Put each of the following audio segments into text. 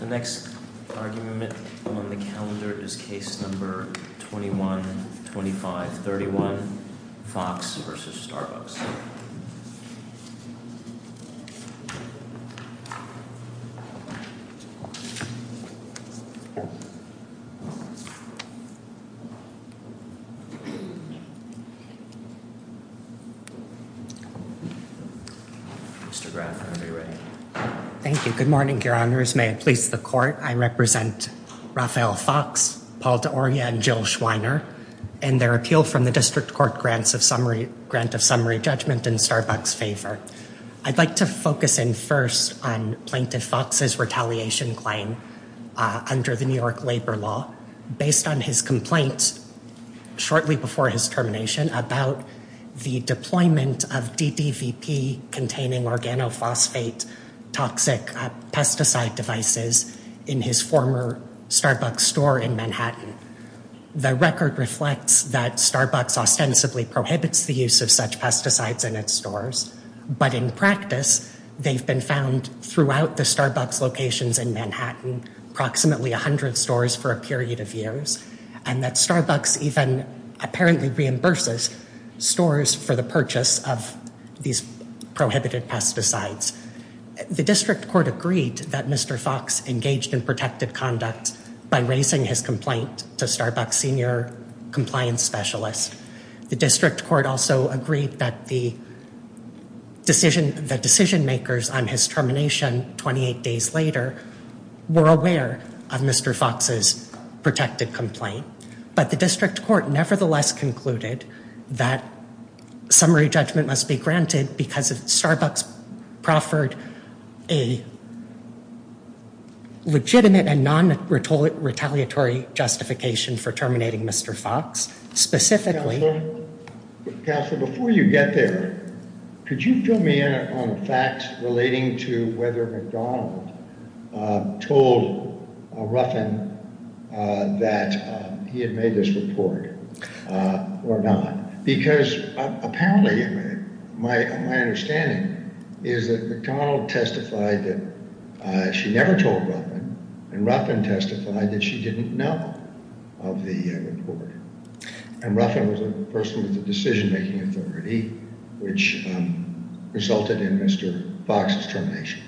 The next argument on the calendar is case number 21-25-31, Fox v. Starbucks. Mr. Graf, I know you're ready. Thank you. Good morning, your honors. May it please the court, I represent Raphael Fox, Paul D'Oria, and Jill Schweiner in their appeal from the district court grant of summary judgment in Starbucks' favor. I'd like to focus in first on Plaintiff Fox's retaliation claim under the New York labor law. Based on his complaints shortly before his termination about the deployment of DDVP-containing organophosphate toxic pesticide devices in his former Starbucks store in Manhattan. The record reflects that Starbucks ostensibly prohibits the use of such pesticides in its stores. But in practice, they've been found throughout the Starbucks locations in Manhattan, approximately 100 stores for a period of years. And that Starbucks even apparently reimburses stores for the purchase of these prohibited pesticides. The district court agreed that Mr. Fox engaged in protected conduct by raising his complaint to Starbucks' senior compliance specialist. The district court also agreed that the decision makers on his termination 28 days later were aware of Mr. Fox's protected complaint. But the district court nevertheless concluded that summary judgment must be granted because Starbucks proffered a legitimate and non-retaliatory justification for terminating Mr. Fox. Counselor, before you get there, could you fill me in on facts relating to whether McDonald told Ruffin that he had made this report or not? Because apparently, my understanding is that McDonald testified that she never told Ruffin, and Ruffin testified that she didn't know of the report. And Ruffin was a person with the decision-making authority, which resulted in Mr. Fox's termination.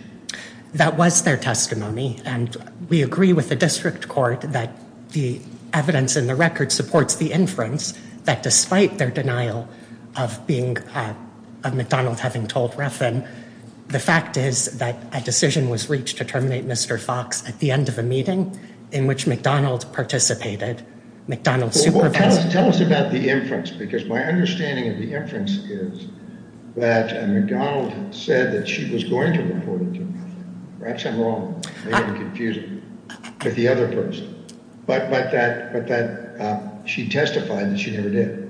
That was their testimony, and we agree with the district court that the evidence in the record supports the inference that despite their denial of McDonald having told Ruffin, the fact is that a decision was reached to terminate Mr. Fox at the end of a meeting in which McDonald participated. Tell us about the inference, because my understanding of the inference is that McDonald said that she was going to report it to him. Perhaps I'm wrong. Maybe I'm confusing you with the other person. But that she testified that she never did.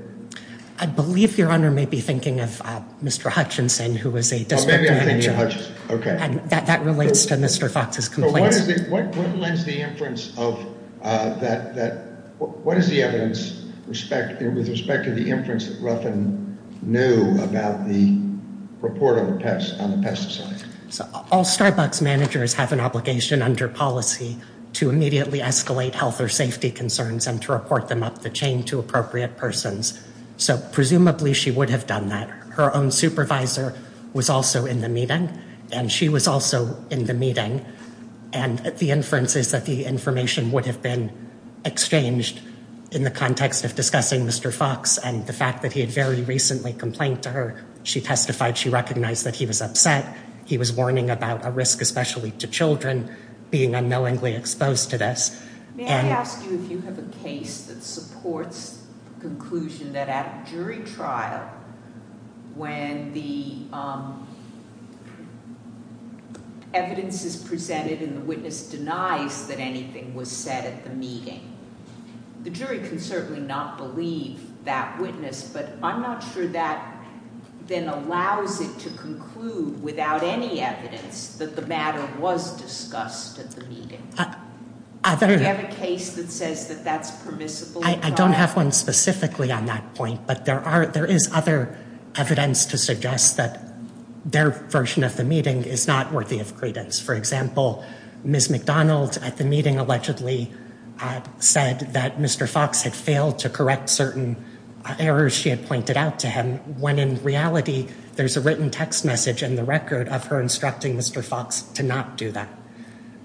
I believe Your Honor may be thinking of Mr. Hutchinson, who was a district manager. Oh, maybe I'm thinking of Hutchinson. Okay. That relates to Mr. Fox's complaints. What is the evidence with respect to the inference that Ruffin knew about the report on the pesticide? All Starbucks managers have an obligation under policy to immediately escalate health or safety concerns and to report them up the chain to appropriate persons. So presumably, she would have done that. Her own supervisor was also in the meeting, and she was also in the meeting. And the inference is that the information would have been exchanged in the context of discussing Mr. Fox and the fact that he had very recently complained to her. She testified she recognized that he was upset. He was warning about a risk, especially to children, being unknowingly exposed to this. May I ask you if you have a case that supports the conclusion that at a jury trial, when the evidence is presented and the witness denies that anything was said at the meeting, the jury can certainly not believe that witness. But I'm not sure that then allows it to conclude without any evidence that the matter was discussed at the meeting. Do you have a case that says that that's permissible? I don't have one specifically on that point, but there is other evidence to suggest that their version of the meeting is not worthy of credence. For example, Ms. McDonald at the meeting allegedly said that Mr. Fox had failed to correct certain errors she had pointed out to him, when in reality, there's a written text message in the record of her instructing Mr. Fox to not do that.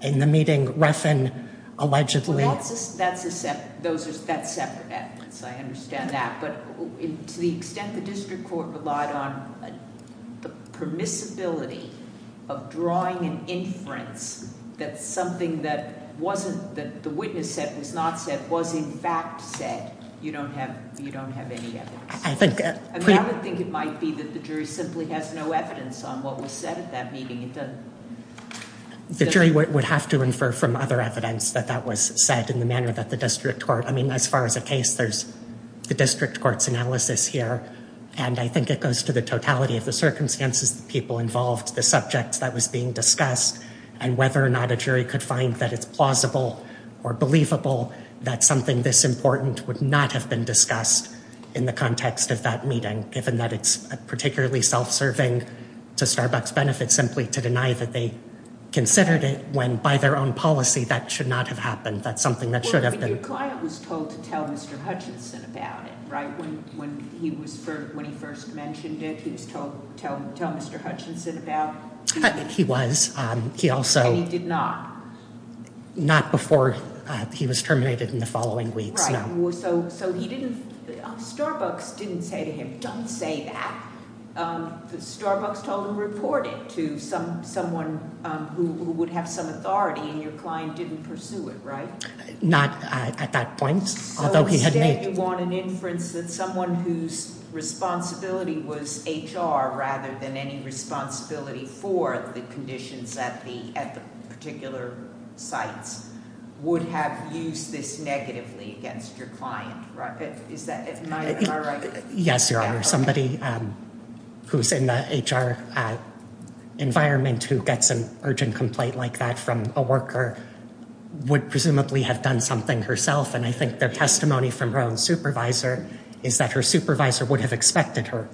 In the meeting, Refn allegedly... That's separate evidence. I understand that. But to the extent the district court relied on the permissibility of drawing an inference that something that the witness said was not said was in fact said, you don't have any evidence. I would think it might be that the jury simply has no evidence on what was said at that meeting. The jury would have to infer from other evidence that that was said in the manner that the district court... I mean, as far as a case, there's the district court's analysis here. And I think it goes to the totality of the circumstances, the people involved, the subjects that was being discussed, and whether or not a jury could find that it's plausible or believable that something this important would not have been discussed in the context of that meeting, given that it's particularly self-serving to Starbucks benefits, simply to deny that they considered it when, by their own policy, that should not have happened. That's something that should have been... But your client was told to tell Mr. Hutchinson about it, right? When he first mentioned it, he was told to tell Mr. Hutchinson about... He was. He also... And he did not? Not before he was terminated in the following weeks, no. Starbucks didn't say to him, don't say that. Starbucks told him to report it to someone who would have some authority, and your client didn't pursue it, right? Not at that point, although he had made... You want an inference that someone whose responsibility was HR, rather than any responsibility for the conditions at the particular sites, would have used this negatively against your client, right? Am I right? Yes, Your Honor. Somebody who's in the HR environment who gets an urgent complaint like that from a worker would presumably have done something herself. And I think their testimony from her own supervisor is that her supervisor would have expected her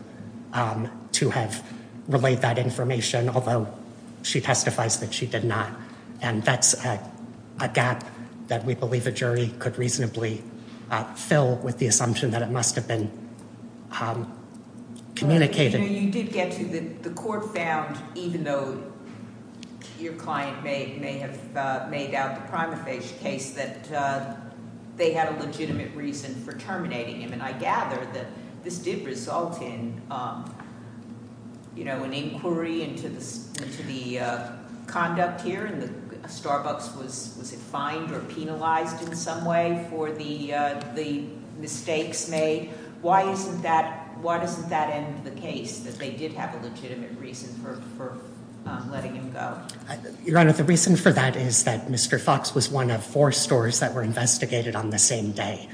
to have relayed that information, although she testifies that she did not. And that's a gap that we believe a jury could reasonably fill with the assumption that it must have been communicated. You did get to the court found, even though your client may have made out the prima facie case, that they had a legitimate reason for terminating him. And I gather that this did result in an inquiry into the conduct here, and Starbucks was fined or penalized in some way for the mistakes made. Why doesn't that end the case, that they did have a legitimate reason for letting him go? Your Honor, the reason for that is that Mr. Fox was one of four stores that were investigated on the same day.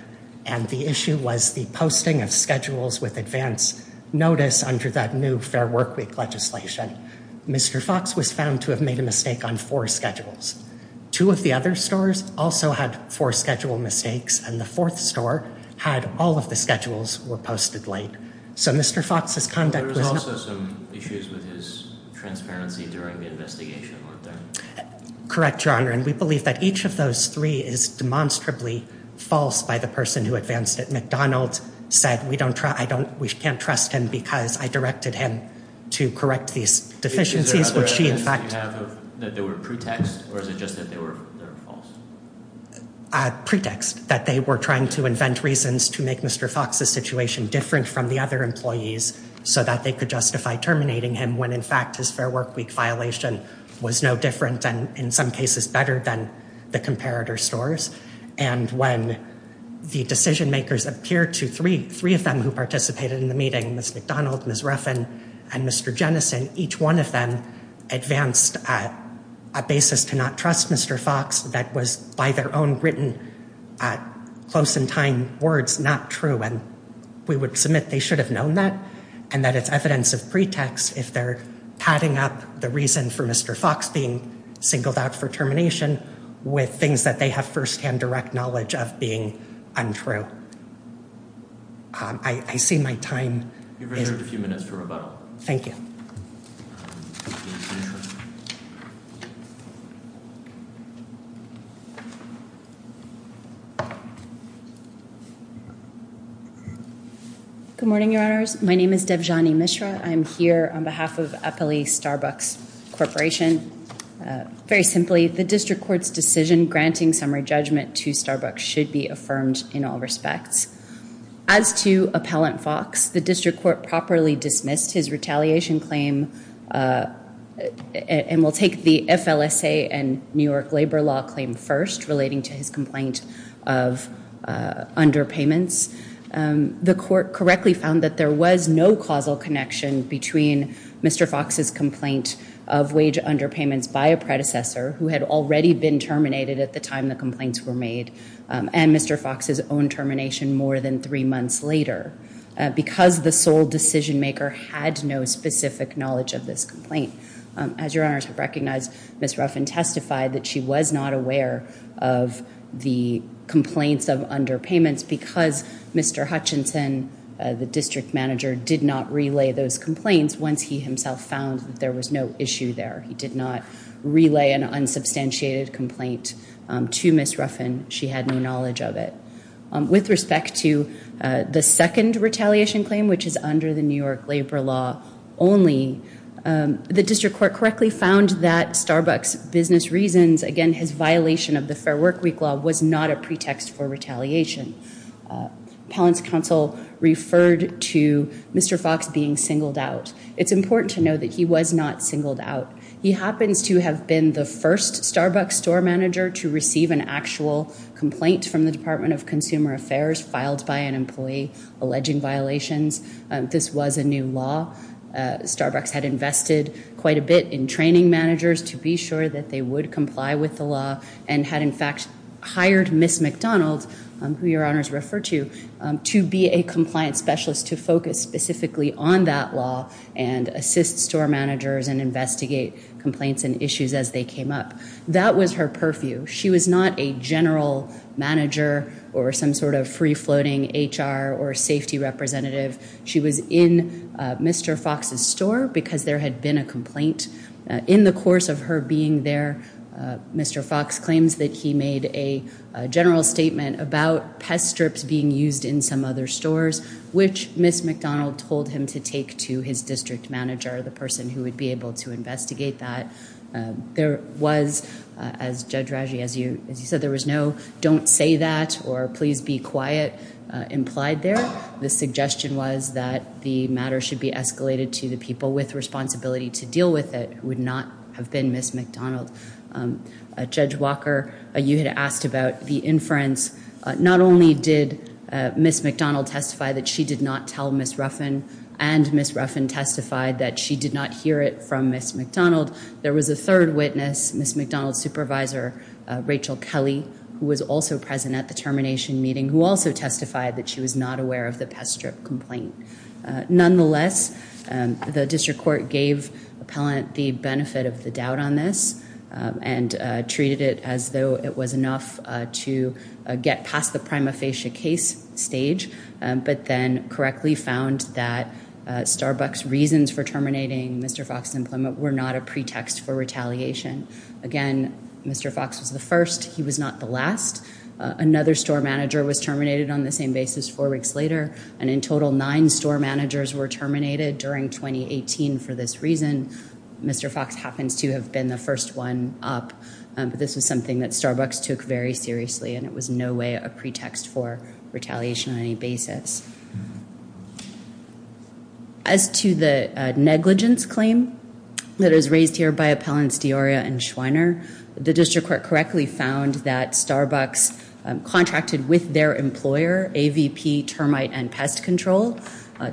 And the issue was the posting of schedules with advance notice under that new Fair Workweek legislation. Mr. Fox was found to have made a mistake on four schedules. Two of the other stores also had four schedule mistakes, and the fourth store had all of the schedules were posted late. So Mr. Fox's conduct was not... But there was also some issues with his transparency during the investigation, weren't there? Correct, Your Honor, and we believe that each of those three is demonstrably false by the person who advanced at McDonald's, said we can't trust him because I directed him to correct these deficiencies, which he in fact... Is there other evidence that you have that there were pretexts, or is it just that they were false? Pretext, that they were trying to invent reasons to make Mr. Fox's situation different from the other employees, so that they could justify terminating him when in fact his Fair Workweek violation was no different, and in some cases better than the comparator stores. And when the decision-makers appeared to three of them who participated in the meeting, Ms. McDonald, Ms. Ruffin, and Mr. Jennison, each one of them advanced at a basis to not trust Mr. Fox that was by their own written, close-in-time words, not true. And we would submit they should have known that, and that it's evidence of pretext, if they're padding up the reason for Mr. Fox being singled out for termination with things that they have first-hand direct knowledge of being untrue. I see my time is... You've reserved a few minutes for rebuttal. Thank you. Good morning, Your Honors. My name is Devjani Mishra. I'm here on behalf of Eppley Starbucks Corporation. Very simply, the district court's decision granting summary judgment to Starbucks should be affirmed in all respects. As to Appellant Fox, the district court properly dismissed his retaliation claim and will take the FLSA and New York labor law claim first relating to his complaint of underpayments. The court correctly found that there was no causal connection between Mr. Fox's complaint of wage underpayments by a predecessor who had already been terminated at the time the complaints were made and Mr. Fox's own termination more than three months later. Because the sole decision maker had no specific knowledge of this complaint. As Your Honors have recognized, Ms. Ruffin testified that she was not aware of the complaints of underpayments because Mr. Hutchinson, the district manager, did not relay those complaints once he himself found that there was no issue there. He did not relay an unsubstantiated complaint to Ms. Ruffin. She had no knowledge of it. With respect to the second retaliation claim, which is under the New York labor law only, the district court correctly found that Starbucks business reasons, again, his violation of the Fair Work Week law was not a pretext for retaliation. Appellant's counsel referred to Mr. Fox being singled out. It's important to know that he was not singled out. He happens to have been the first Starbucks store manager to receive an actual complaint from the Department of Consumer Affairs filed by an employee alleging violations. This was a new law. Starbucks had invested quite a bit in training managers to be sure that they would comply with the law and had, in fact, hired Ms. McDonald, who Your Honors refer to, to be a compliance specialist to focus specifically on that law and assist store managers and investigate complaints and issues as they came up. That was her purview. She was not a general manager or some sort of free-floating HR or safety representative. She was in Mr. Fox's store because there had been a complaint. In the course of her being there, Mr. Fox claims that he made a general statement about pest strips being used in some other stores, which Ms. McDonald told him to take to his district manager, the person who would be able to investigate that. There was, as Judge Raggi, as you said, there was no don't say that or please be quiet implied there. The suggestion was that the matter should be escalated to the people with responsibility to deal with it who would not have been Ms. McDonald. Judge Walker, you had asked about the inference. Not only did Ms. McDonald testify that she did not tell Ms. Ruffin and Ms. Ruffin testified that she did not hear it from Ms. McDonald, there was a third witness, Ms. McDonald's supervisor, Rachel Kelly, who was also present at the termination meeting, who also testified that she was not aware of the pest strip complaint. Nonetheless, the district court gave appellant the benefit of the doubt on this and treated it as though it was enough to get past the prima facie case stage but then correctly found that Starbucks' reasons for terminating Mr. Fox's employment were not a pretext for retaliation. Again, Mr. Fox was the first. He was not the last. Another store manager was terminated on the same basis four weeks later, and in total nine store managers were terminated during 2018 for this reason. Mr. Fox happens to have been the first one up, but this was something that Starbucks took very seriously and it was in no way a pretext for retaliation on any basis. As to the negligence claim that is raised here by Appellants Diorio and Schweiner, the district court correctly found that Starbucks contracted with their employer, AVP Termite and Pest Control,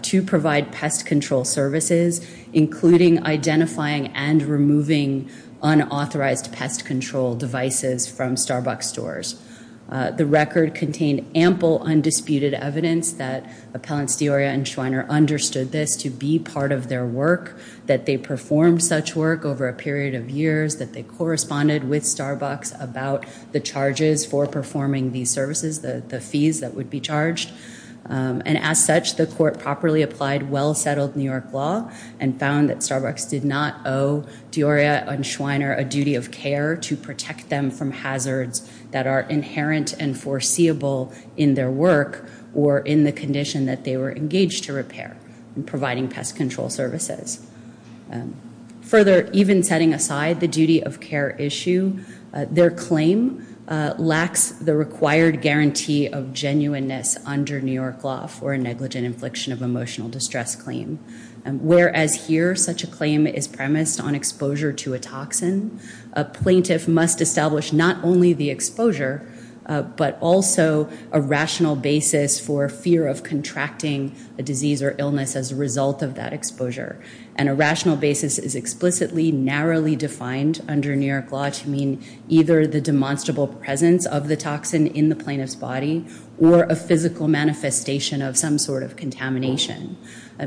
to provide pest control services, including identifying and removing unauthorized pest control devices from Starbucks stores. The record contained ample undisputed evidence that Appellants Diorio and Schweiner understood this to be part of their work, that they performed such work over a period of years, that they corresponded with Starbucks about the charges for performing these services, the fees that would be charged, and as such the court properly applied well-settled New York law and found that Starbucks did not owe Diorio and Schweiner a duty of care to protect them from hazards that are inherent and foreseeable in their work or in the condition that they were engaged to repair in providing pest control services. Further, even setting aside the duty of care issue, their claim lacks the required guarantee of genuineness under New York law for a negligent infliction of emotional distress claim. Whereas here such a claim is premised on exposure to a toxin, a plaintiff must establish not only the exposure, but also a rational basis for fear of contracting a disease or illness as a result of that exposure. And a rational basis is explicitly narrowly defined under New York law to mean either the demonstrable presence of the toxin in the plaintiff's body or a physical manifestation of some sort of contamination.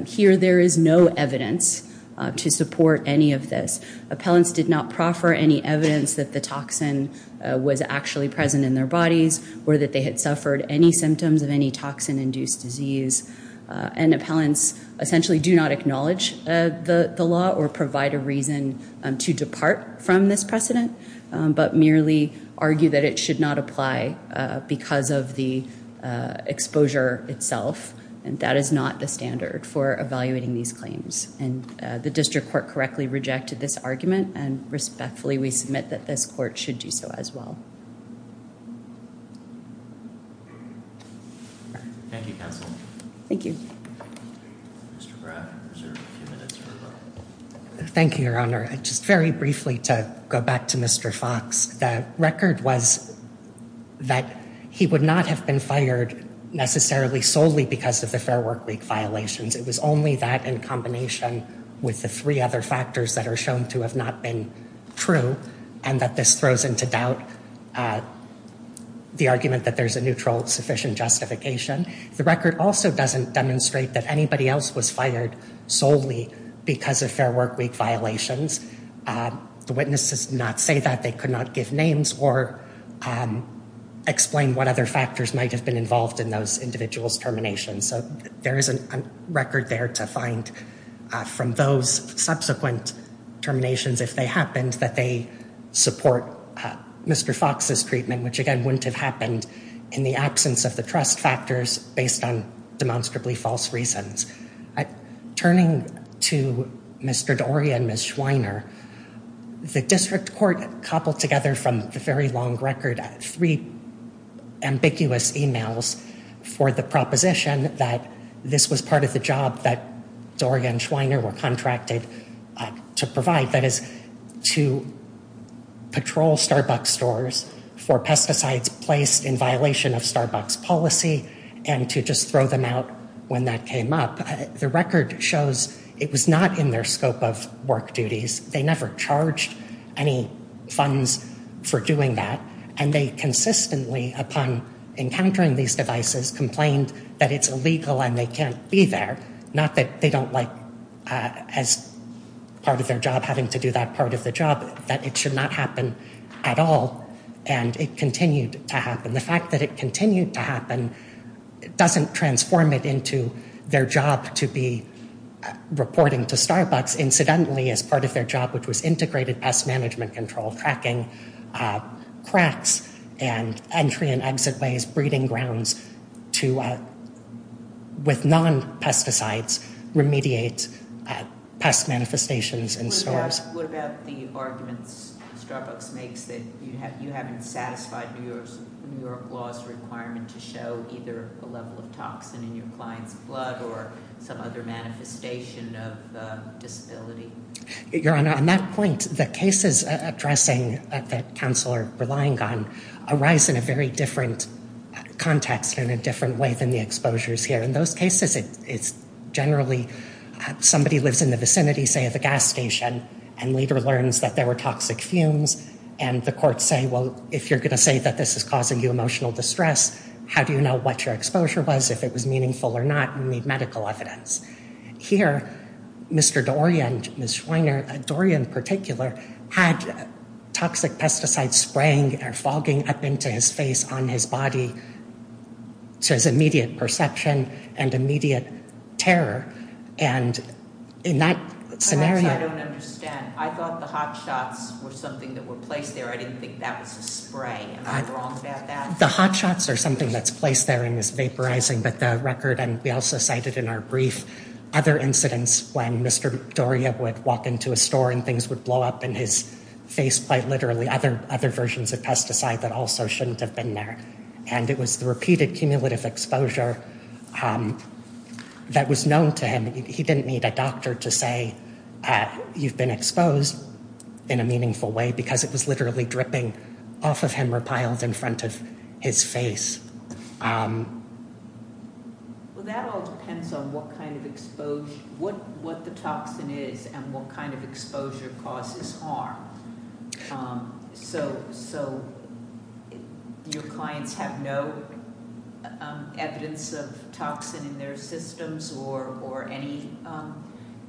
Here there is no evidence to support any of this. Appellants did not proffer any evidence that the toxin was actually present in their bodies or that they had suffered any symptoms of any toxin-induced disease. And appellants essentially do not acknowledge the law or provide a reason to depart from this precedent, but merely argue that it should not apply because of the exposure itself. And that is not the standard for evaluating these claims. And the district court correctly rejected this argument and respectfully we submit that this court should do so as well. Thank you, counsel. Thank you. Thank you, Your Honor. Just very briefly to go back to Mr. Fox. The record was that he would not have been fired necessarily solely because of the Fair Work Week violations. It was only that in combination with the three other factors that are shown to have not been true and that this throws into doubt the argument that there's a neutral sufficient justification. The record also doesn't demonstrate that anybody else was fired solely because of Fair Work Week violations. The witnesses did not say that. They could not give names or explain what other factors might have been involved in those individuals' terminations. So there is a record there to find from those subsequent terminations, if they happened, that they support Mr. Fox's treatment, which again wouldn't have happened in the absence of the trust factors based on demonstrably false reasons. Turning to Mr. Doria and Ms. Schweiner, the district court cobbled together from the very long record three ambiguous emails for the proposition that this was part of the job that Doria and Schweiner were contracted to provide, that is to patrol Starbucks stores for pesticides placed in violation of Starbucks policy and to just throw them out when that came up. The record shows it was not in their scope of work duties. They never charged any funds for doing that. And they consistently, upon encountering these devices, complained that it's illegal and they can't be there, not that they don't like as part of their job having to do that part of the job, And it continued to happen. The fact that it continued to happen doesn't transform it into their job to be reporting to Starbucks, incidentally, as part of their job, which was integrated pest management control, cracking cracks and entry and exit ways, breeding grounds to, with non-pesticides, remediate pest manifestations in stores. What about the arguments Starbucks makes that you haven't satisfied New York law's requirement to show either a level of toxin in your client's blood or some other manifestation of disability? Your Honor, on that point, the cases addressing that counsel are relying on arise in a very different context and in a different way than the exposures here. In those cases, it's generally somebody lives in the vicinity, say, of a gas station and later learns that there were toxic fumes and the courts say, well, if you're going to say that this is causing you emotional distress, how do you know what your exposure was, if it was meaningful or not? You need medical evidence. Here, Mr. Doria and Ms. Schweiner, Doria in particular, had toxic pesticides spraying or fogging up into his face on his body. So there's immediate perception and immediate terror, and in that scenario Perhaps I don't understand. I thought the hot shots were something that were placed there. I didn't think that was a spray. Am I wrong about that? The hot shots are something that's placed there and is vaporizing, but the record, and we also cited in our brief, other incidents when Mr. Doria would walk into a store and things would blow up in his face, quite literally, other versions of pesticide that also shouldn't have been there. And it was the repeated cumulative exposure that was known to him. He didn't need a doctor to say, you've been exposed in a meaningful way because it was literally dripping off of him or piled in front of his face. Well, that all depends on what kind of exposure, what the toxin is and what kind of exposure causes harm. So your clients have no evidence of toxin in their systems or any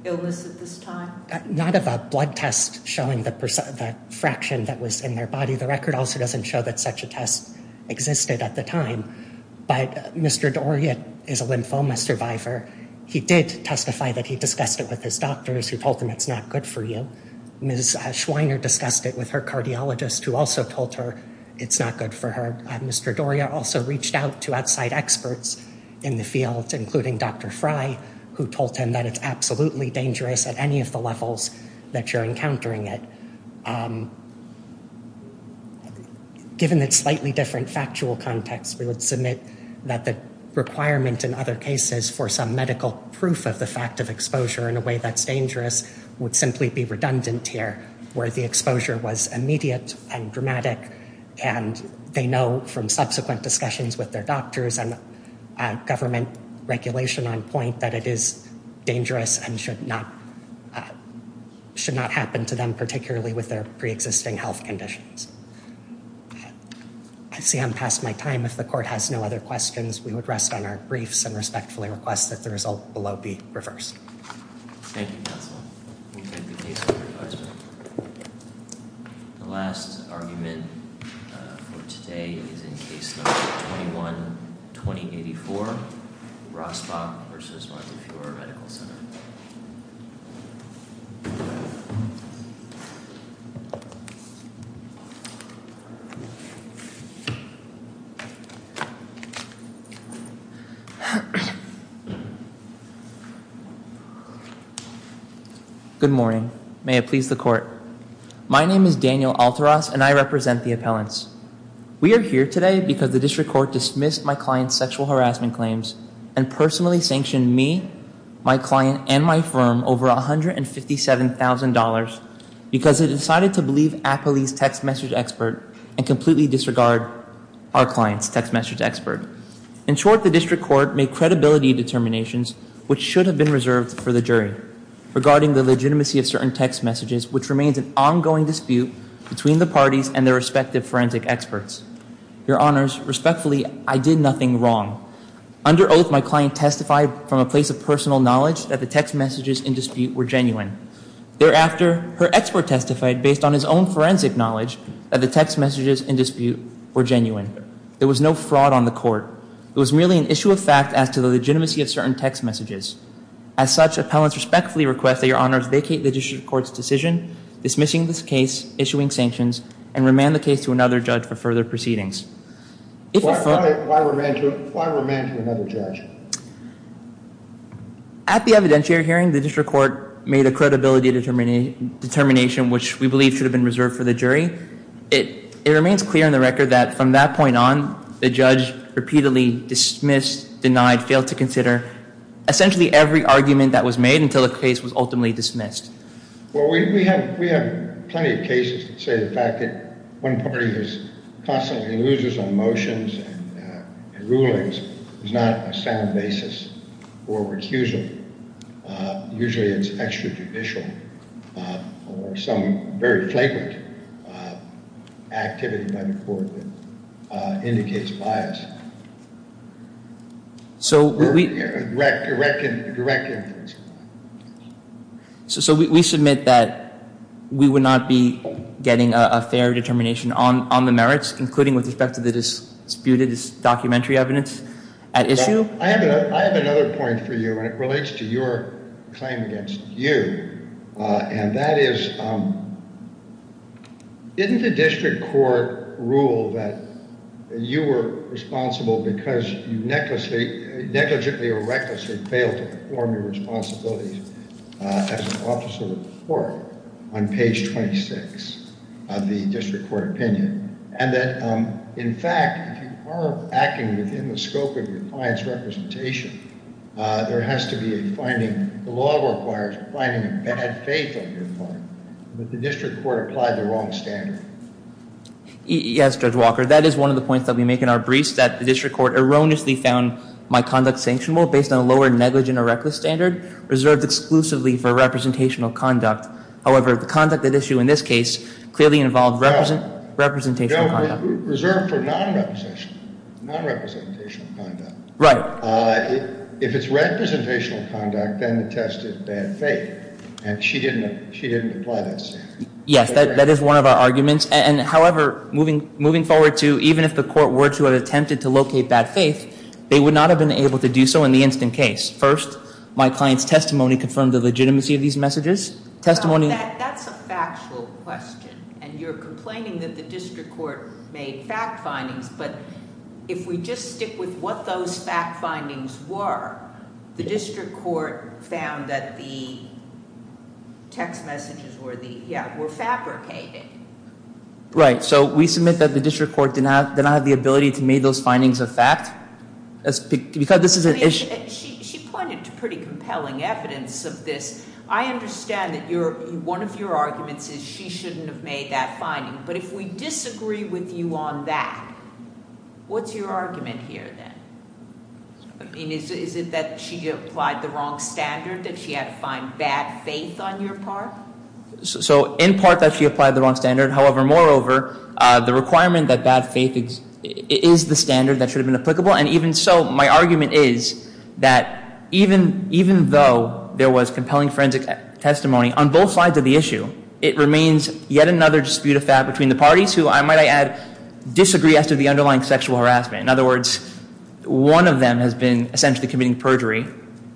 illness at this time? Not of a blood test showing the fraction that was in their body. The record also doesn't show that such a test existed at the time. But Mr. Doria is a lymphoma survivor. He did testify that he discussed it with his doctors who told them it's not good for you. Ms. Schweiner discussed it with her cardiologist who also told her it's not good for her. Mr. Doria also reached out to outside experts in the field, including Dr. Fry, who told him that it's absolutely dangerous at any of the levels that you're encountering it. Given its slightly different factual context, we would submit that the requirement in other cases for some medical proof of the fact of exposure in a way that's dangerous would simply be redundant here where the exposure was immediate and dramatic and they know from subsequent discussions with their doctors and government regulation on point that it is dangerous and should not happen to them, particularly with their pre-existing health conditions. I see I'm past my time. If the court has no other questions, we would rest on our briefs and respectfully request that the result below be reversed. Thank you, counsel. The last argument for today is in case number 21-2084, Rosbach v. Martin Furor Medical Center. Good morning. May it please the court. My name is Daniel Alteras, and I represent the appellants. We are here today because the district court dismissed my client's sexual harassment claims and personally sanctioned me, my client, and my firm over $157,000 because it decided to believe Apoly's text message expert and completely disregard our client's text message expert. In short, the district court made credibility determinations, which should have been reserved for the jury, regarding the legitimacy of certain text messages, which remains an ongoing dispute between the parties and their respective forensic experts. Your honors, respectfully, I did nothing wrong. Under oath, my client testified from a place of personal knowledge that the text messages in dispute were genuine. Thereafter, her expert testified based on his own forensic knowledge that the text messages in dispute were genuine. There was no fraud on the court. It was merely an issue of fact as to the legitimacy of certain text messages. As such, appellants respectfully request that your honors vacate the district court's decision, dismissing this case, issuing sanctions, and remand the case to another judge for further proceedings. Why remand to another judge? At the evidentiary hearing, the district court made a credibility determination, which we believe should have been reserved for the jury. It remains clear on the record that from that point on, the judge repeatedly dismissed, denied, failed to consider essentially every argument that was made until the case was ultimately dismissed. Well, we have plenty of cases that say the fact that one party constantly loses on motions and rulings is not a sound basis for recusal. Usually it's extrajudicial or some very flagrant activity by the court that indicates bias. So we submit that we would not be getting a fair determination on the merits, including with respect to the disputed documentary evidence at issue? I have another point for you, and it relates to your claim against you, and that is, didn't the district court rule that you were responsible because you negligently or recklessly failed to perform your responsibilities as an officer of the court on page 26 of the district court opinion? And that, in fact, if you are acting within the scope of your client's representation, there has to be a finding, the law requires finding a bad faith of your client. But the district court applied the wrong standard. Yes, Judge Walker. That is one of the points that we make in our briefs, that the district court erroneously found my conduct sanctionable based on a lower negligent or reckless standard reserved exclusively for representational conduct. However, the conduct at issue in this case clearly involved representational conduct. Reserved for non-representational conduct. Right. If it's representational conduct, then the test is bad faith. And she didn't apply that standard. Yes, that is one of our arguments. And, however, moving forward to even if the court were to have attempted to locate bad faith, they would not have been able to do so in the instant case. First, my client's testimony confirmed the legitimacy of these messages. That's a factual question. And you're complaining that the district court made fact findings. But if we just stick with what those fact findings were, the district court found that the text messages were fabricated. Right. So we submit that the district court did not have the ability to make those findings a fact. She pointed to pretty compelling evidence of this. I understand that one of your arguments is she shouldn't have made that finding. But if we disagree with you on that, what's your argument here then? Is it that she applied the wrong standard, that she had to find bad faith on your part? So in part that she applied the wrong standard. However, moreover, the requirement that bad faith is the standard that should have been applicable. And even so, my argument is that even though there was compelling forensic testimony on both sides of the issue, it remains yet another dispute of fact between the parties who, I might add, disagree as to the underlying sexual harassment. In other words, one of them has been essentially committing perjury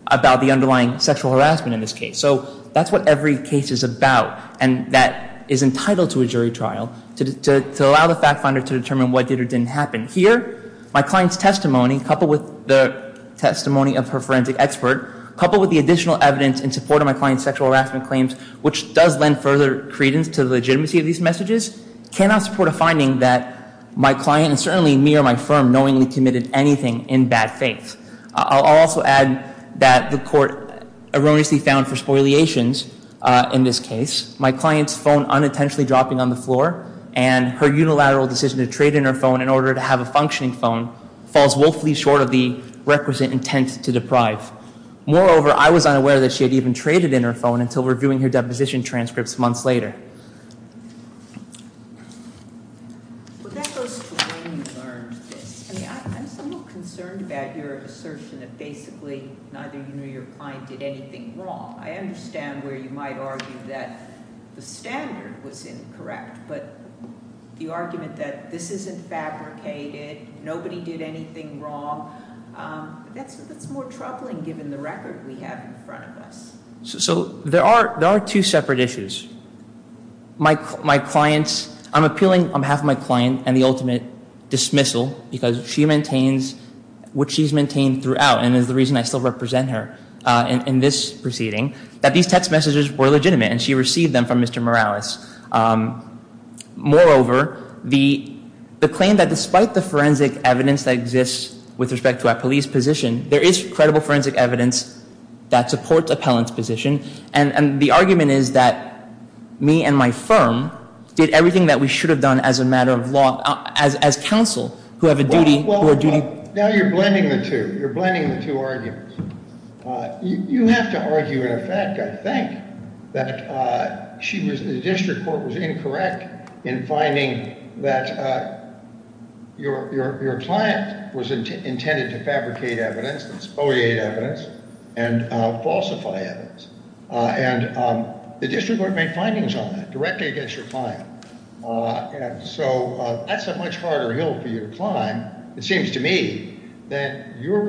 about the underlying sexual harassment in this case. So that's what every case is about. And that is entitled to a jury trial to allow the fact finder to determine what did or didn't happen. Here, my client's testimony, coupled with the testimony of her forensic expert, coupled with the additional evidence in support of my client's sexual harassment claims, which does lend further credence to the legitimacy of these messages, cannot support a finding that my client, and certainly me or my firm, knowingly committed anything in bad faith. I'll also add that the court erroneously found for spoiliations in this case, my client's phone unintentionally dropping on the floor, and her unilateral decision to trade in her phone in order to have a functioning phone falls woefully short of the requisite intent to deprive. Moreover, I was unaware that she had even traded in her phone until reviewing her deposition transcripts months later. But that goes to when you learned this. I mean, I'm still concerned about your assertion that basically neither you nor your client did anything wrong. I understand where you might argue that the standard was incorrect, but the argument that this isn't fabricated, nobody did anything wrong, that's more troubling given the record we have in front of us. So there are two separate issues. My client's, I'm appealing on behalf of my client and the ultimate dismissal, because she maintains what she's maintained throughout, and is the reason I still represent her in this proceeding, that these text messages were legitimate and she received them from Mr. Morales. Moreover, the claim that despite the forensic evidence that exists with respect to our police position, there is credible forensic evidence that supports appellant's position, and the argument is that me and my firm did everything that we should have done as a matter of law, as counsel, who have a duty. Well, now you're blending the two. You're blending the two arguments. You have to argue in effect, I think, that she was, the district court was incorrect in finding that your client was intended to fabricate evidence, and spoliate evidence, and falsify evidence. And the district court made findings on that directly against your client. So that's a much harder hill for you to climb, it seems to me, than your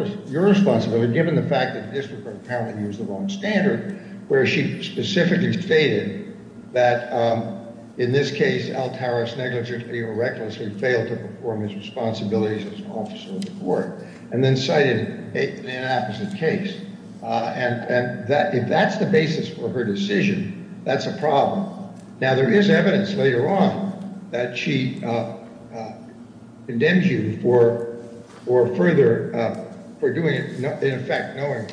responsibility, given the fact that the district court apparently used the wrong standard, where she specifically stated that, in this case, Altares negligently or recklessly failed to perform his responsibilities as an officer of the court, and then cited an inopposite case. And if that's the basis for her decision, that's a problem. Now, there is evidence later on that she condemns you for further, for doing it, in effect, knowing.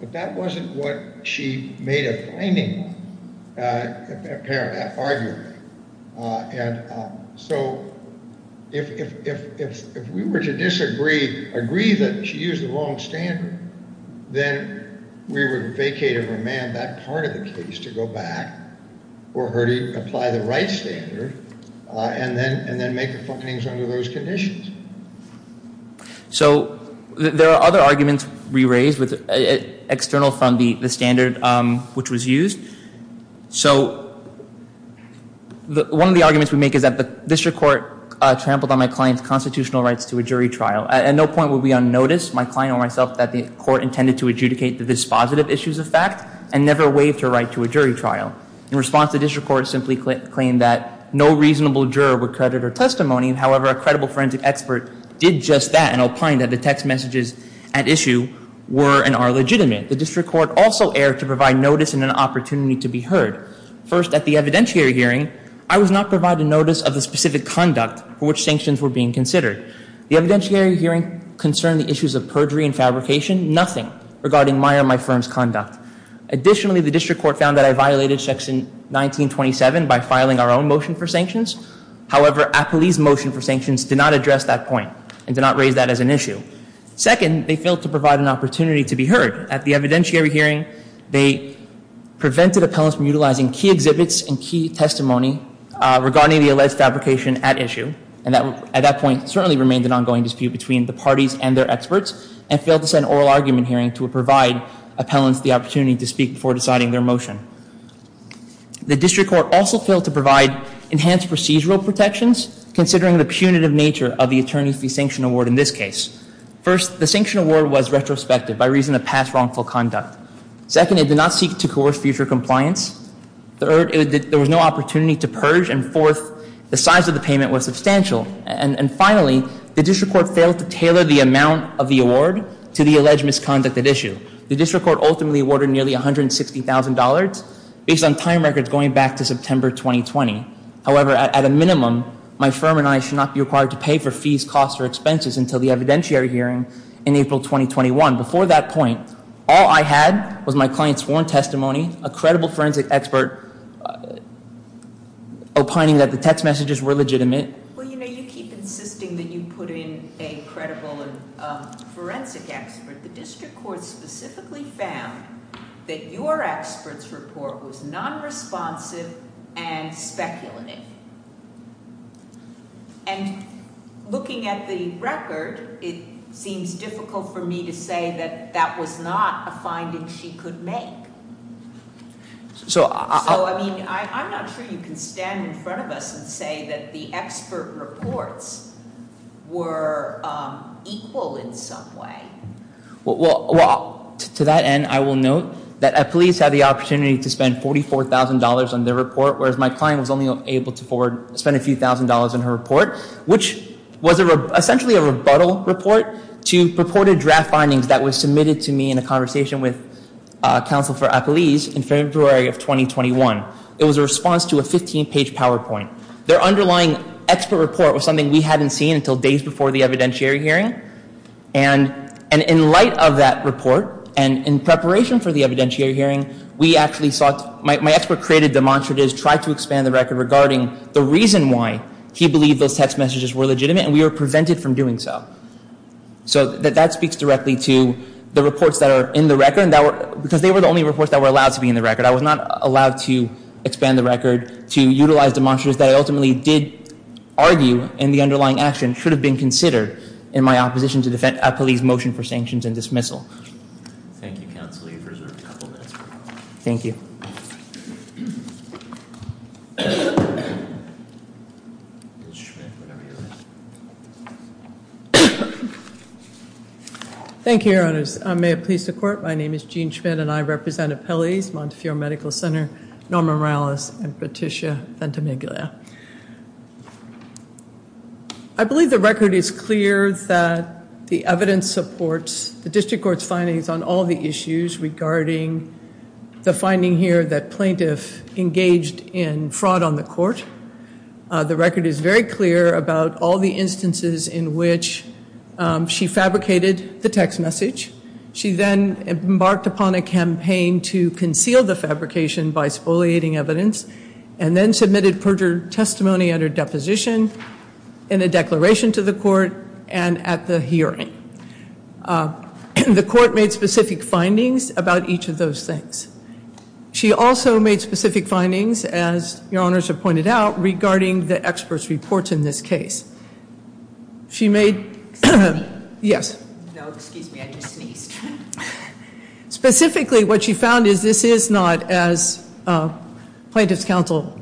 But that wasn't what she made a finding on, apparently, arguably. And so if we were to disagree, agree that she used the wrong standard, then we would vacate or remand that part of the case to go back, or her to apply the right standard, and then make the findings under those conditions. So, there are other arguments we raised, external from the standard which was used. So, one of the arguments we make is that the district court trampled on my client's constitutional rights to a jury trial. At no point would we unnotice, my client or myself, that the court intended to adjudicate the dispositive issues of fact, and never waived her right to a jury trial. In response, the district court simply claimed that no reasonable juror would credit her testimony. However, a credible forensic expert did just that, and opined that the text messages at issue were and are legitimate. The district court also erred to provide notice and an opportunity to be heard. First, at the evidentiary hearing, I was not provided notice of the specific conduct for which sanctions were being considered. The evidentiary hearing concerned the issues of perjury and fabrication. Nothing regarding my or my firm's conduct. Additionally, the district court found that I violated section 1927 by filing our own motion for sanctions. However, Appley's motion for sanctions did not address that point, and did not raise that as an issue. Second, they failed to provide an opportunity to be heard. At the evidentiary hearing, they prevented appellants from utilizing key exhibits and key testimony regarding the alleged fabrication at issue. And at that point, certainly remained an ongoing dispute between the parties and their experts, and failed to send an oral argument hearing to provide appellants the opportunity to speak before deciding their motion. The district court also failed to provide enhanced procedural protections, considering the punitive nature of the attorney-free sanction award in this case. First, the sanction award was retrospective by reason of past wrongful conduct. Second, it did not seek to coerce future compliance. Third, there was no opportunity to purge. And fourth, the size of the payment was substantial. And finally, the district court failed to tailor the amount of the award to the alleged misconduct at issue. The district court ultimately awarded nearly $160,000 based on time records going back to September 2020. However, at a minimum, my firm and I should not be required to pay for fees, costs, or expenses until the evidentiary hearing in April 2021. Before that point, all I had was my client's sworn testimony, a credible forensic expert opining that the text messages were legitimate. Well, you know, you keep insisting that you put in a credible forensic expert. The district court specifically found that your expert's report was non-responsive and speculative. And looking at the record, it seems difficult for me to say that that was not a finding she could make. So I mean, I'm not sure you can stand in front of us and say that the expert reports were equal in some way. Well, to that end, I will note that police had the opportunity to spend $44,000 on their report, whereas my client was only able to spend a few thousand dollars on her report, which was essentially a rebuttal report to purported draft findings that were submitted to me in a conversation with counsel for police in February of 2021. It was a response to a 15-page PowerPoint. Their underlying expert report was something we hadn't seen until days before the evidentiary hearing. And in light of that report, and in preparation for the evidentiary hearing, we actually sought, my expert created demonstratives, tried to expand the record regarding the reason why he believed those text messages were legitimate, and we were prevented from doing so. So that speaks directly to the reports that are in the record, because they were the only reports that were allowed to be in the record. I was not allowed to expand the record to utilize demonstratives that I ultimately did argue in the underlying action should have been considered in my opposition to the police motion for sanctions and dismissal. Thank you, counsel. You've reserved a couple of minutes. Thank you. Thank you, Your Honors. May it please the Court. My name is Jean Schmidt, and I represent Appellees, Montefiore Medical Center, Norma Morales, and Patricia Ventimiglia. I believe the record is clear that the evidence supports the district court's findings on all the issues regarding the finding here that plaintiff engaged in fraud on the court. The record is very clear about all the instances in which she fabricated the text message. She then embarked upon a campaign to conceal the fabrication by spoliating evidence, and then submitted perjured testimony under deposition in a declaration to the court and at the hearing. The court made specific findings about each of those things. She also made specific findings, as Your Honors have pointed out, regarding the experts' reports in this case. She made- Excuse me. Yes. No, excuse me. I just sneezed. Specifically, what she found is this is not, as plaintiff's counsel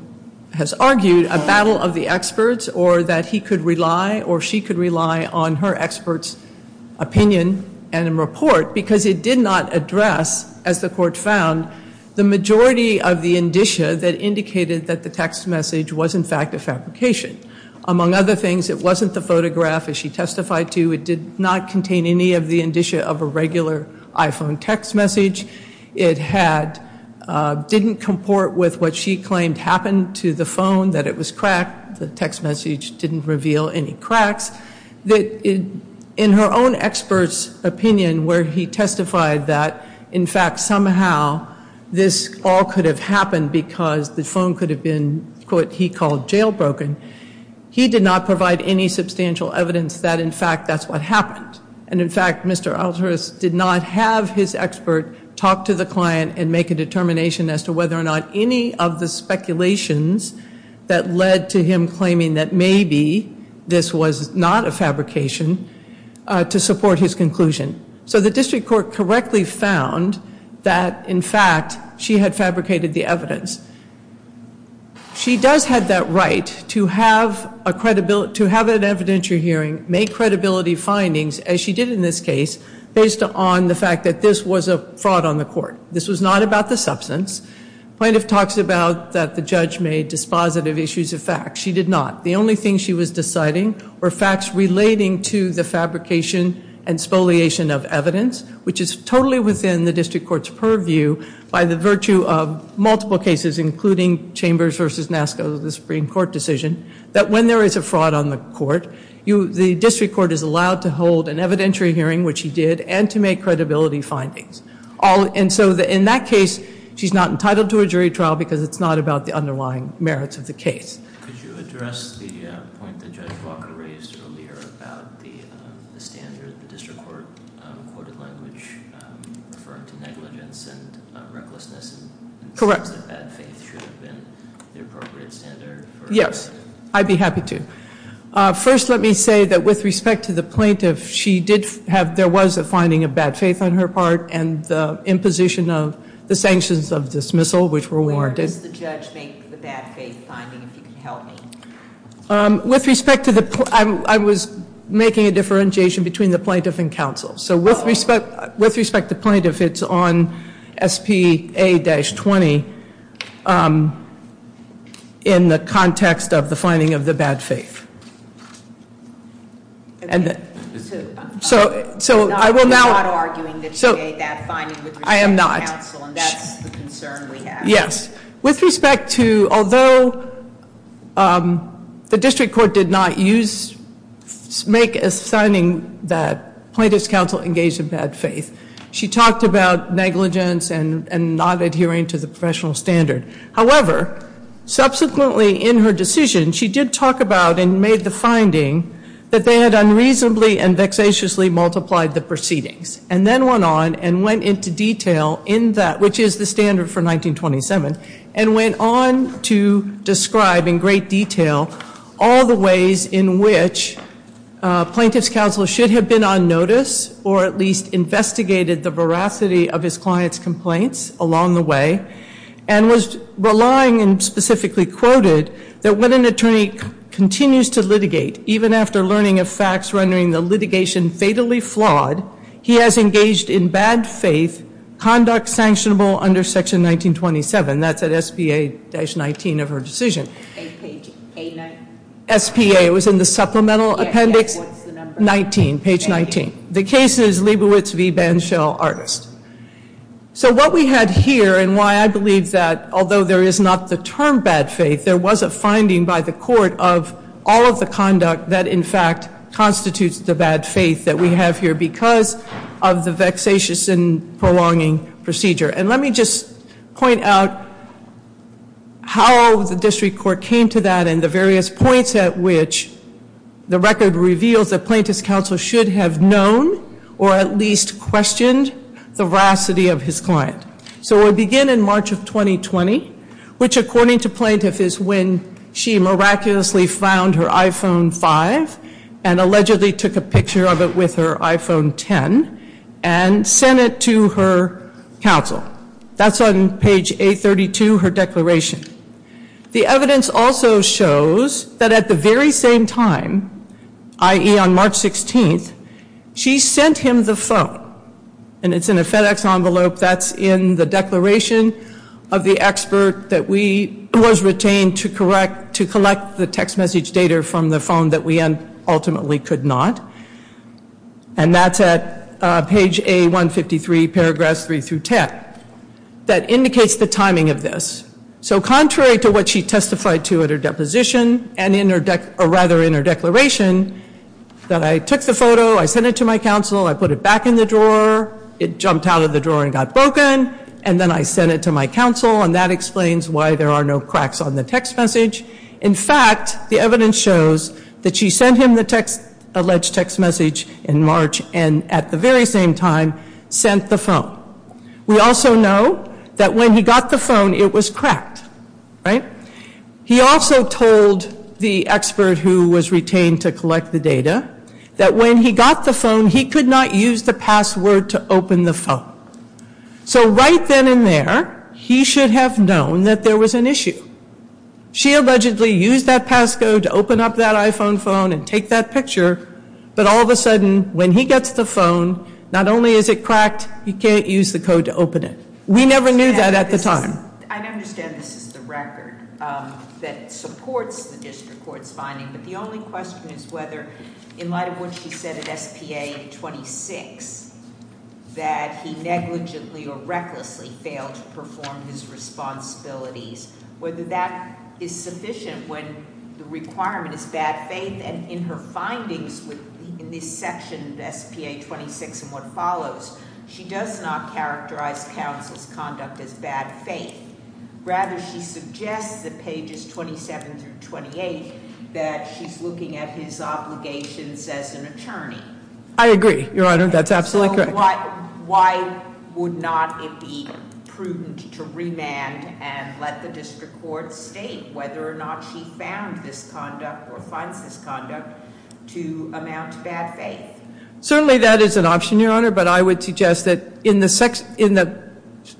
has argued, a battle of the experts, or that he could rely or she could rely on her expert's opinion and report, because it did not address, as the court found, the majority of the indicia that indicated that the text message was, in fact, a fabrication. Among other things, it wasn't the photograph, as she testified to. It did not contain any of the indicia of a regular iPhone text message. It didn't comport with what she claimed happened to the phone, that it was cracked. The text message didn't reveal any cracks. In her own expert's opinion, where he testified that, in fact, somehow this all could have happened because the phone could have been, quote, he called, jailbroken, he did not provide any substantial evidence that, in fact, that's what happened. And, in fact, Mr. Alteris did not have his expert talk to the client and make a determination as to whether or not any of the speculations that led to him claiming that maybe this was not a fabrication to support his conclusion. So the district court correctly found that, in fact, she had fabricated the evidence. She does have that right to have an evidentiary hearing, make credibility findings, as she did in this case, based on the fact that this was a fraud on the court. This was not about the substance. Plaintiff talks about that the judge made dispositive issues of facts. She did not. The only thing she was deciding were facts relating to the fabrication and spoliation of evidence, which is totally within the district court's purview by the virtue of multiple cases, including Chambers v. Nasco, the Supreme Court decision, that when there is a fraud on the court, the district court is allowed to hold an evidentiary hearing, which he did, and to make credibility findings. And so in that case, she's not entitled to a jury trial because it's not about the underlying merits of the case. Could you address the point that Judge Walker raised earlier about the standard, the district court quoted language referring to negligence and recklessness- Correct. In the sense that bad faith should have been the appropriate standard for- Yes, I'd be happy to. First, let me say that with respect to the plaintiff, she did have, there was a finding of bad faith on her part and the imposition of the sanctions of dismissal, which were warranted. How does the judge make the bad faith finding, if you can help me? With respect to the, I was making a differentiation between the plaintiff and counsel. So with respect to plaintiff, it's on SPA-20 in the context of the finding of the bad faith. So I will now- You're not arguing that you made that finding with respect to counsel and that's the concern we have. Yes. With respect to, although the district court did not use, make a signing that plaintiff's counsel engaged in bad faith, she talked about negligence and not adhering to the professional standard. However, subsequently in her decision, she did talk about and made the finding that they had unreasonably and vexatiously multiplied the proceedings and then went on and went into detail in that, which is the standard for 1927, and went on to describe in great detail all the ways in which plaintiff's counsel should have been on notice or at least investigated the veracity of his client's complaints along the way and was relying and specifically quoted that when an attorney continues to litigate, even after learning of facts rendering the litigation fatally flawed, he has engaged in bad faith conduct sanctionable under section 1927. That's at SPA-19 of her decision. Page A-19. SPA, it was in the supplemental appendix- Yes, yes, what's the number? 19, page 19. The case is Leibowitz v. Banshell, Artist. So what we had here and why I believe that although there is not the term bad faith, there was a finding by the court of all of the conduct that in fact constitutes the bad faith that we have here because of the vexatious and prolonging procedure. And let me just point out how the district court came to that and the various points at which the record reveals that plaintiff's counsel should have known or at least questioned the veracity of his client. So we begin in March of 2020, which according to plaintiff is when she miraculously found her iPhone 5 and allegedly took a picture of it with her iPhone 10 and sent it to her counsel. That's on page A-32, her declaration. The evidence also shows that at the very same time, i.e. on March 16th, she sent him the phone. And it's in a FedEx envelope that's in the declaration of the expert that was retained to collect the text message data from the phone that we ultimately could not. And that's at page A-153, paragraphs 3 through 10. That indicates the timing of this. So contrary to what she testified to at her deposition and rather in her declaration, that I took the photo, I sent it to my counsel, I put it back in the drawer. It jumped out of the drawer and got broken. And then I sent it to my counsel. And that explains why there are no cracks on the text message. In fact, the evidence shows that she sent him the alleged text message in March and at the very same time sent the phone. We also know that when he got the phone, it was cracked, right? He also told the expert who was retained to collect the data that when he got the phone, he could not use the password to open the phone. So right then and there, he should have known that there was an issue. She allegedly used that passcode to open up that iPhone phone and take that picture. But all of a sudden, when he gets the phone, not only is it cracked, he can't use the code to open it. We never knew that at the time. I understand this is the record that supports the district court's finding, but the only question is whether, in light of what she said at SPA 26, that he negligently or recklessly failed to perform his responsibilities, whether that is sufficient when the requirement is bad faith. And in her findings in this section of SPA 26 and what follows, she does not characterize counsel's conduct as bad faith. Rather, she suggests that pages 27 through 28 that she's looking at his obligations as an attorney. I agree, Your Honor. That's absolutely correct. So why would not it be prudent to remand and let the district court state whether or not she found this conduct or finds this conduct to amount to bad faith? Certainly that is an option, Your Honor, but I would suggest that in the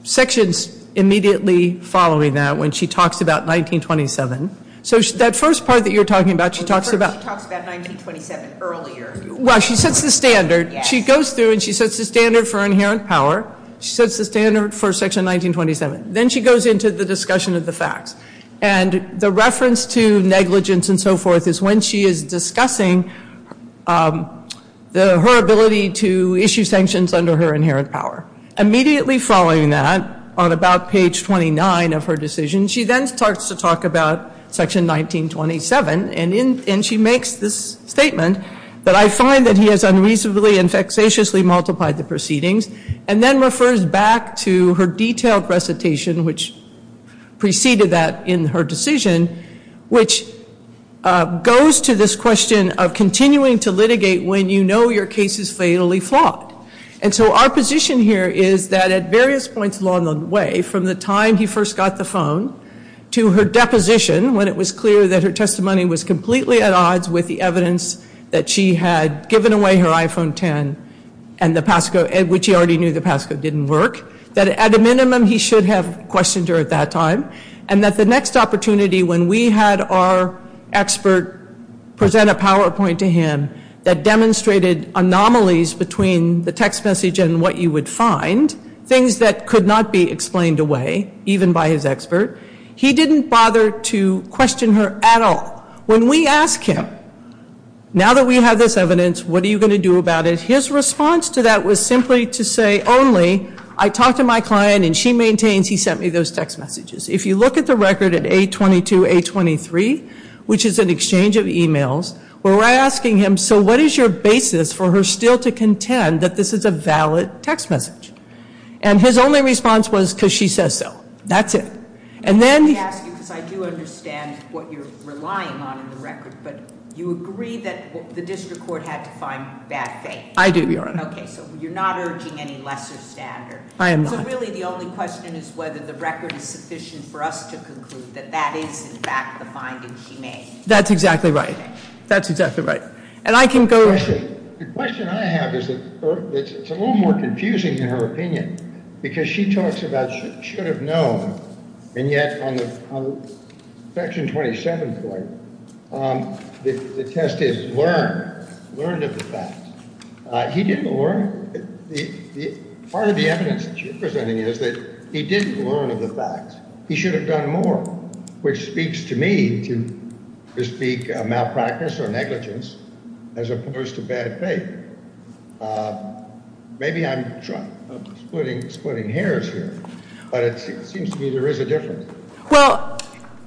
sections immediately following that, when she talks about 1927. So that first part that you're talking about, she talks about. She talks about 1927 earlier. Well, she sets the standard. Yes. She goes through and she sets the standard for inherent power. She sets the standard for Section 1927. Then she goes into the discussion of the facts. And the reference to negligence and so forth is when she is discussing her ability to issue sanctions under her inherent power. Immediately following that, on about page 29 of her decision, she then starts to talk about Section 1927. And she makes this statement that, I find that he has unreasonably and vexatiously multiplied the proceedings, and then refers back to her detailed recitation, which preceded that in her decision, which goes to this question of continuing to litigate when you know your case is fatally flawed. And so our position here is that at various points along the way, from the time he first got the phone to her deposition, when it was clear that her testimony was completely at odds with the evidence that she had given away her iPhone 10, which he already knew the passcode didn't work, that at a minimum he should have questioned her at that time, and that the next opportunity when we had our expert present a PowerPoint to him that demonstrated anomalies between the text message and what you would find, things that could not be explained away, even by his expert, he didn't bother to question her at all. When we ask him, now that we have this evidence, what are you going to do about it? His response to that was simply to say only I talked to my client and she maintains he sent me those text messages. If you look at the record at A22, A23, which is an exchange of e-mails, where we're asking him, so what is your basis for her still to contend that this is a valid text message? And his only response was because she says so. That's it. Let me ask you, because I do understand what you're relying on in the record, but you agree that the district court had to find bad faith. I do, Your Honor. Okay, so you're not urging any lesser standard. I am not. So really the only question is whether the record is sufficient for us to conclude that that is, in fact, the finding she made. That's exactly right. That's exactly right. And I can go to her. The question I have is that it's a little more confusing in her opinion, because she talks about should have known, and yet on Section 27, the test is learned of the fact. He didn't learn. Part of the evidence that you're presenting is that he didn't learn of the fact. He should have done more, which speaks to me to speak of malpractice or negligence as opposed to bad faith. Maybe I'm splitting hairs here, but it seems to me there is a difference. Well,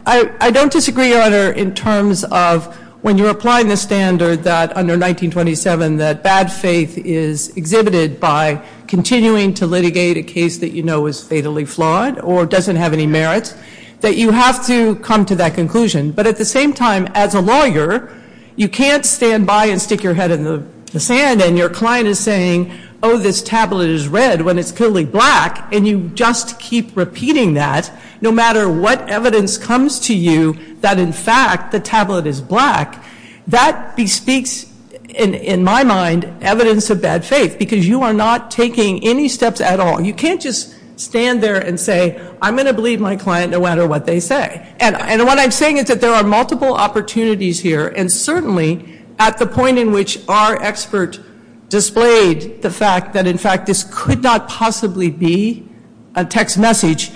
I don't disagree, Your Honor, in terms of when you're applying the standard that under 1927, that bad faith is exhibited by continuing to litigate a case that you know is fatally flawed or doesn't have any merit, that you have to come to that conclusion. But at the same time, as a lawyer, you can't stand by and stick your head in the sand, and your client is saying, oh, this tablet is red, when it's clearly black, and you just keep repeating that, no matter what evidence comes to you that, in fact, the tablet is black. That bespeaks, in my mind, evidence of bad faith, because you are not taking any steps at all. You can't just stand there and say, I'm going to believe my client no matter what they say. And what I'm saying is that there are multiple opportunities here, and certainly at the point in which our expert displayed the fact that, in fact, this could not possibly be a text message,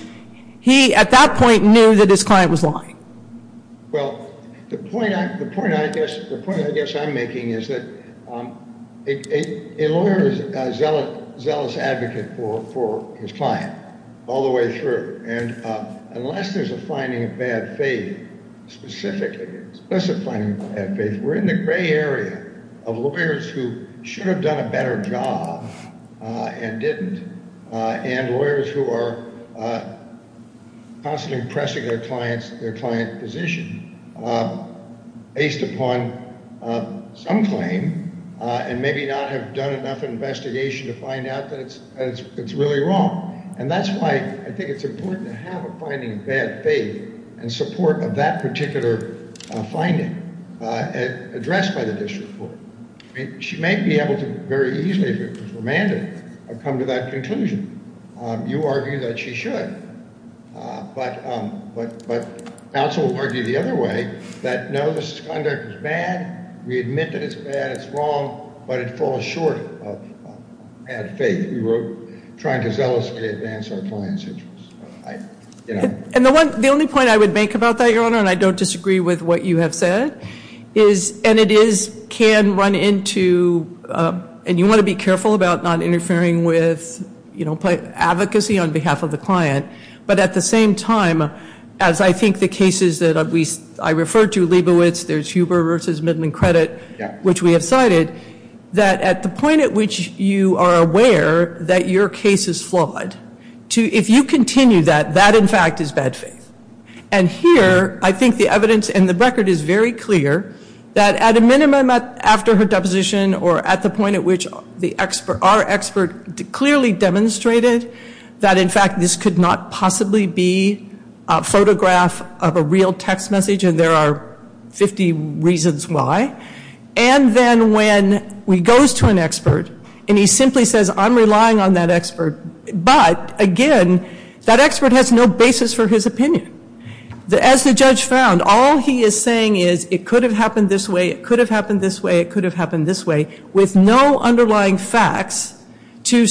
he, at that point, knew that his client was lying. Well, the point I guess I'm making is that a lawyer is a zealous advocate for his client all the way through. And unless there's a finding of bad faith, specifically, unless there's a finding of bad faith, we're in the gray area of lawyers who should have done a better job and didn't, and lawyers who are constantly pressing their client's position based upon some claim and maybe not have done enough investigation to find out that it's really wrong. And that's why I think it's important to have a finding of bad faith and support of that particular finding addressed by the district court. She may be able to very easily, if it was remanded, come to that conclusion. You argue that she should, but counsel will argue the other way, that no, this conduct is bad. We admit that it's bad, it's wrong, but it falls short of bad faith. We were trying to zealously advance our client's interests. And the only point I would make about that, Your Honor, and I don't disagree with what you have said, and it can run into, and you want to be careful about not interfering with advocacy on behalf of the client, but at the same time, as I think the cases that I referred to, Leibowitz, there's Huber v. Midland Credit, which we have cited, that at the point at which you are aware that your case is flawed, if you continue that, that, in fact, is bad faith. And here, I think the evidence and the record is very clear that at a minimum, after her deposition or at the point at which our expert clearly demonstrated that, in fact, this could not possibly be a photograph of a real text message, and there are 50 reasons why, and then when he goes to an expert and he simply says, I'm relying on that expert, but, again, that expert has no basis for his opinion. As the judge found, all he is saying is, it could have happened this way, it could have happened this way, it could have happened this way, with no underlying facts to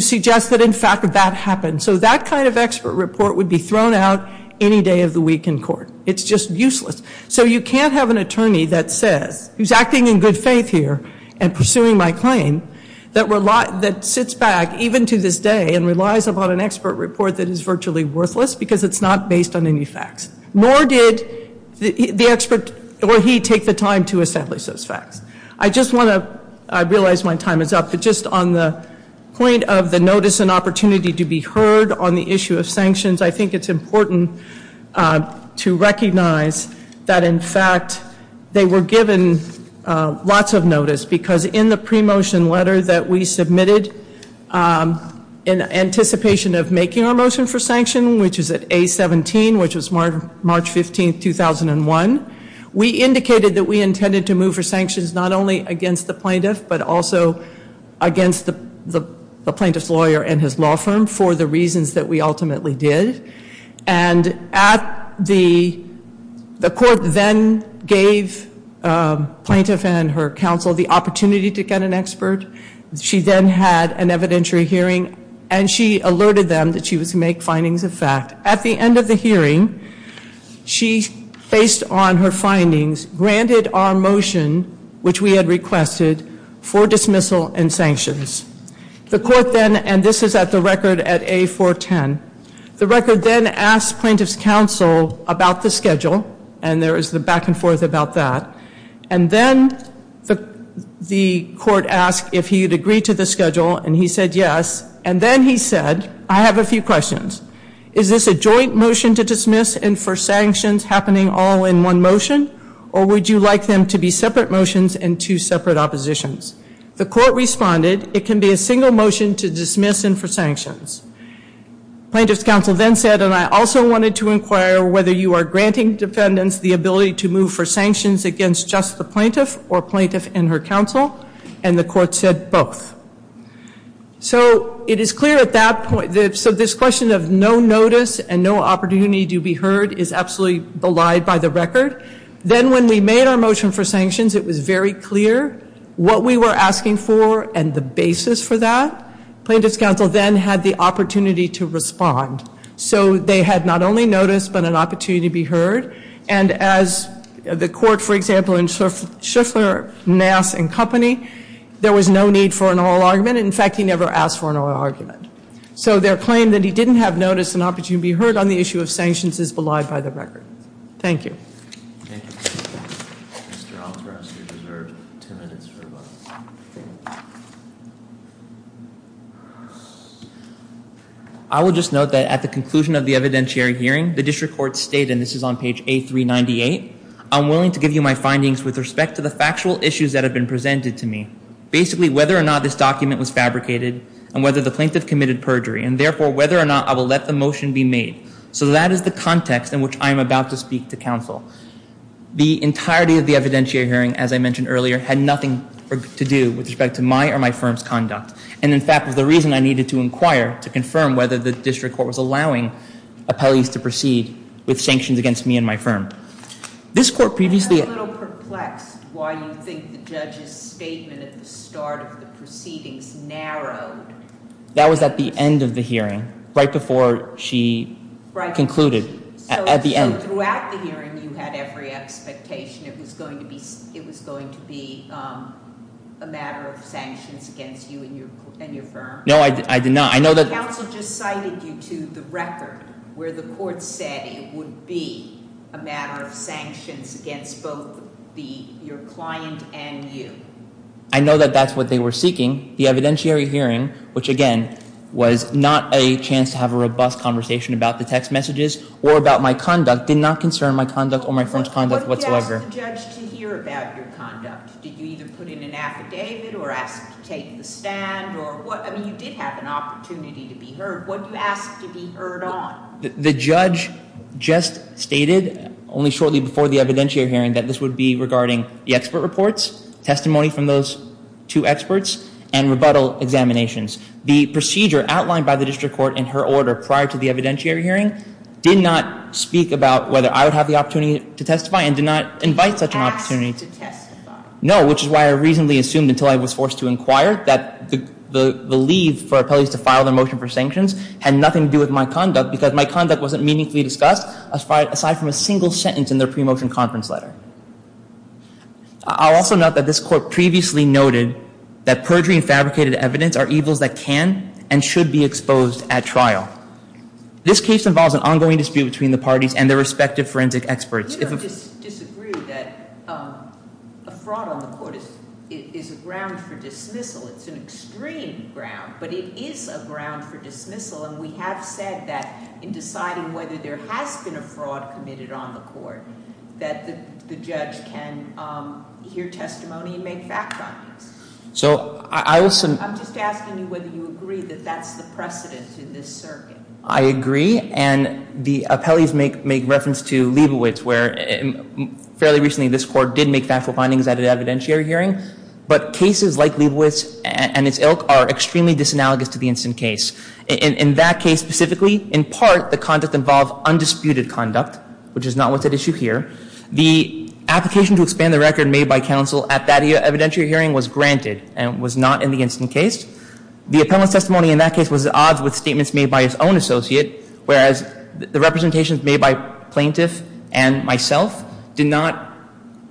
suggest that, in fact, that happened. So that kind of expert report would be thrown out any day of the week in court. It's just useless. So you can't have an attorney that says, he's acting in good faith here and pursuing my claim, that sits back even to this day and relies upon an expert report that is virtually worthless because it's not based on any facts. Nor did the expert or he take the time to establish those facts. I just want to, I realize my time is up, but just on the point of the notice and opportunity to be heard on the issue of sanctions, I think it's important to recognize that, in fact, they were given lots of notice because in the pre-motion letter that we submitted in anticipation of making our motion for sanction, which was at A-17, which was March 15, 2001, we indicated that we intended to move for sanctions not only against the plaintiff, but also against the plaintiff's lawyer and his law firm for the reasons that we ultimately did. And at the, the court then gave plaintiff and her counsel the opportunity to get an expert. She then had an evidentiary hearing, and she alerted them that she was to make findings of fact. At the end of the hearing, she, based on her findings, granted our motion, which we had requested, for dismissal and sanctions. The court then, and this is at the record at A-410, the record then asked plaintiff's counsel about the schedule, and there is the back and forth about that. And then the court asked if he had agreed to the schedule, and he said yes. And then he said, I have a few questions. Is this a joint motion to dismiss and for sanctions happening all in one motion, or would you like them to be separate motions and two separate oppositions? The court responded, it can be a single motion to dismiss and for sanctions. Plaintiff's counsel then said, and I also wanted to inquire whether you are granting defendants the ability to move for sanctions against just the plaintiff or plaintiff and her counsel, and the court said both. So it is clear at that point, so this question of no notice and no opportunity to be heard is absolutely belied by the record. Then when we made our motion for sanctions, it was very clear what we were asking for and the basis for that. Plaintiff's counsel then had the opportunity to respond. So they had not only notice but an opportunity to be heard. And as the court, for example, in Shiffler, Nass, and Company, there was no need for an oral argument. In fact, he never asked for an oral argument. So their claim that he didn't have notice and opportunity to be heard on the issue of sanctions is belied by the record. Thank you. Thank you. Mr. Altheros, you deserve ten minutes for rebuttal. I will just note that at the conclusion of the evidentiary hearing, the district court stated, and this is on page A398, I'm willing to give you my findings with respect to the factual issues that have been presented to me, basically whether or not this document was fabricated and whether the plaintiff committed perjury, and therefore whether or not I will let the motion be made. So that is the context in which I am about to speak to counsel. The entirety of the evidentiary hearing, as I mentioned earlier, had nothing to do with respect to my or my firm's conduct. And, in fact, was the reason I needed to inquire to confirm whether the district court was allowing appellees to proceed with sanctions against me and my firm. This court previously... I'm a little perplexed why you think the judge's statement at the start of the proceedings narrowed. That was at the end of the hearing, right before she concluded, at the end. So throughout the hearing, you had every expectation it was going to be a matter of sanctions against you and your firm? No, I did not. I know that... Counsel just cited you to the record where the court said it would be a matter of sanctions against both your client and you. I know that that's what they were seeking. The evidentiary hearing, which, again, was not a chance to have a robust conversation about the text messages or about my conduct, did not concern my conduct or my firm's conduct whatsoever. What did you ask the judge to hear about your conduct? Did you either put in an affidavit or ask to take the stand or what? I mean, you did have an opportunity to be heard. What did you ask to be heard on? The judge just stated, only shortly before the evidentiary hearing, that this would be regarding the expert reports, testimony from those two experts, and rebuttal examinations. The procedure outlined by the district court in her order prior to the evidentiary hearing did not speak about whether I would have the opportunity to testify and did not invite such an opportunity to testify. No, which is why I reasonably assumed until I was forced to inquire that the leave for appellees to file their motion for sanctions had nothing to do with my conduct because my conduct wasn't meaningfully discussed aside from a single sentence in their pre-motion conference letter. I'll also note that this court previously noted that perjury and fabricated evidence are evils that can and should be exposed at trial. This case involves an ongoing dispute between the parties and their respective forensic experts. You don't disagree that a fraud on the court is a ground for dismissal. It's an extreme ground, but it is a ground for dismissal. And we have said that in deciding whether there has been a fraud committed on the court, that the judge can hear testimony and make fact-findings. So I was— I'm just asking you whether you agree that that's the precedent in this circuit. I agree. And the appellees make reference to Leibovitz, where fairly recently this court did make factual findings at an evidentiary hearing. But cases like Leibovitz and its ilk are extremely disanalogous to the instant case. In that case specifically, in part, the conduct involved undisputed conduct, which is not what's at issue here. The application to expand the record made by counsel at that evidentiary hearing was granted and was not in the instant case. The appellant's testimony in that case was at odds with statements made by his own associate, whereas the representations made by plaintiff and myself did not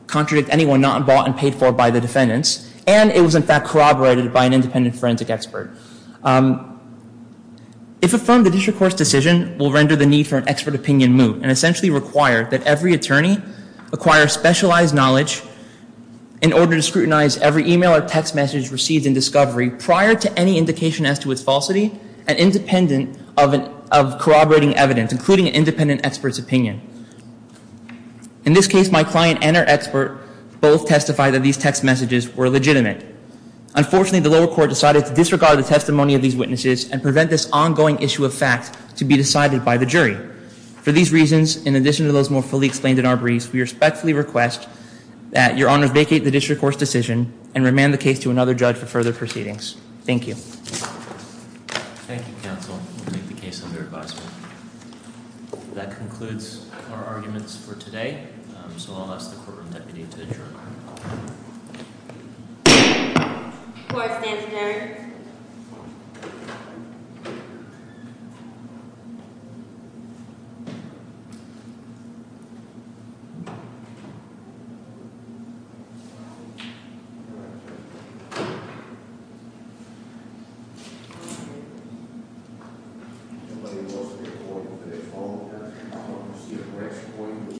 contradict anyone not involved and paid for by the defendants. And it was, in fact, corroborated by an independent forensic expert. If affirmed, the district court's decision will render the need for an expert opinion moot and essentially require that every attorney acquire specialized knowledge in order to scrutinize every email or text message received in discovery prior to any indication as to its falsity and independent of corroborating evidence, including an independent expert's opinion. In this case, my client and her expert both testified that these text messages were legitimate. Unfortunately, the lower court decided to disregard the testimony of these witnesses and prevent this ongoing issue of fact to be decided by the jury. For these reasons, in addition to those more fully explained in our briefs, we respectfully request that Your Honor vacate the district court's decision and remand the case to another judge for further proceedings. Thank you. Thank you, counsel. We'll make the case under advisement. That concludes our arguments for today, so I'll ask the courtroom deputy to adjourn. Court is adjourned.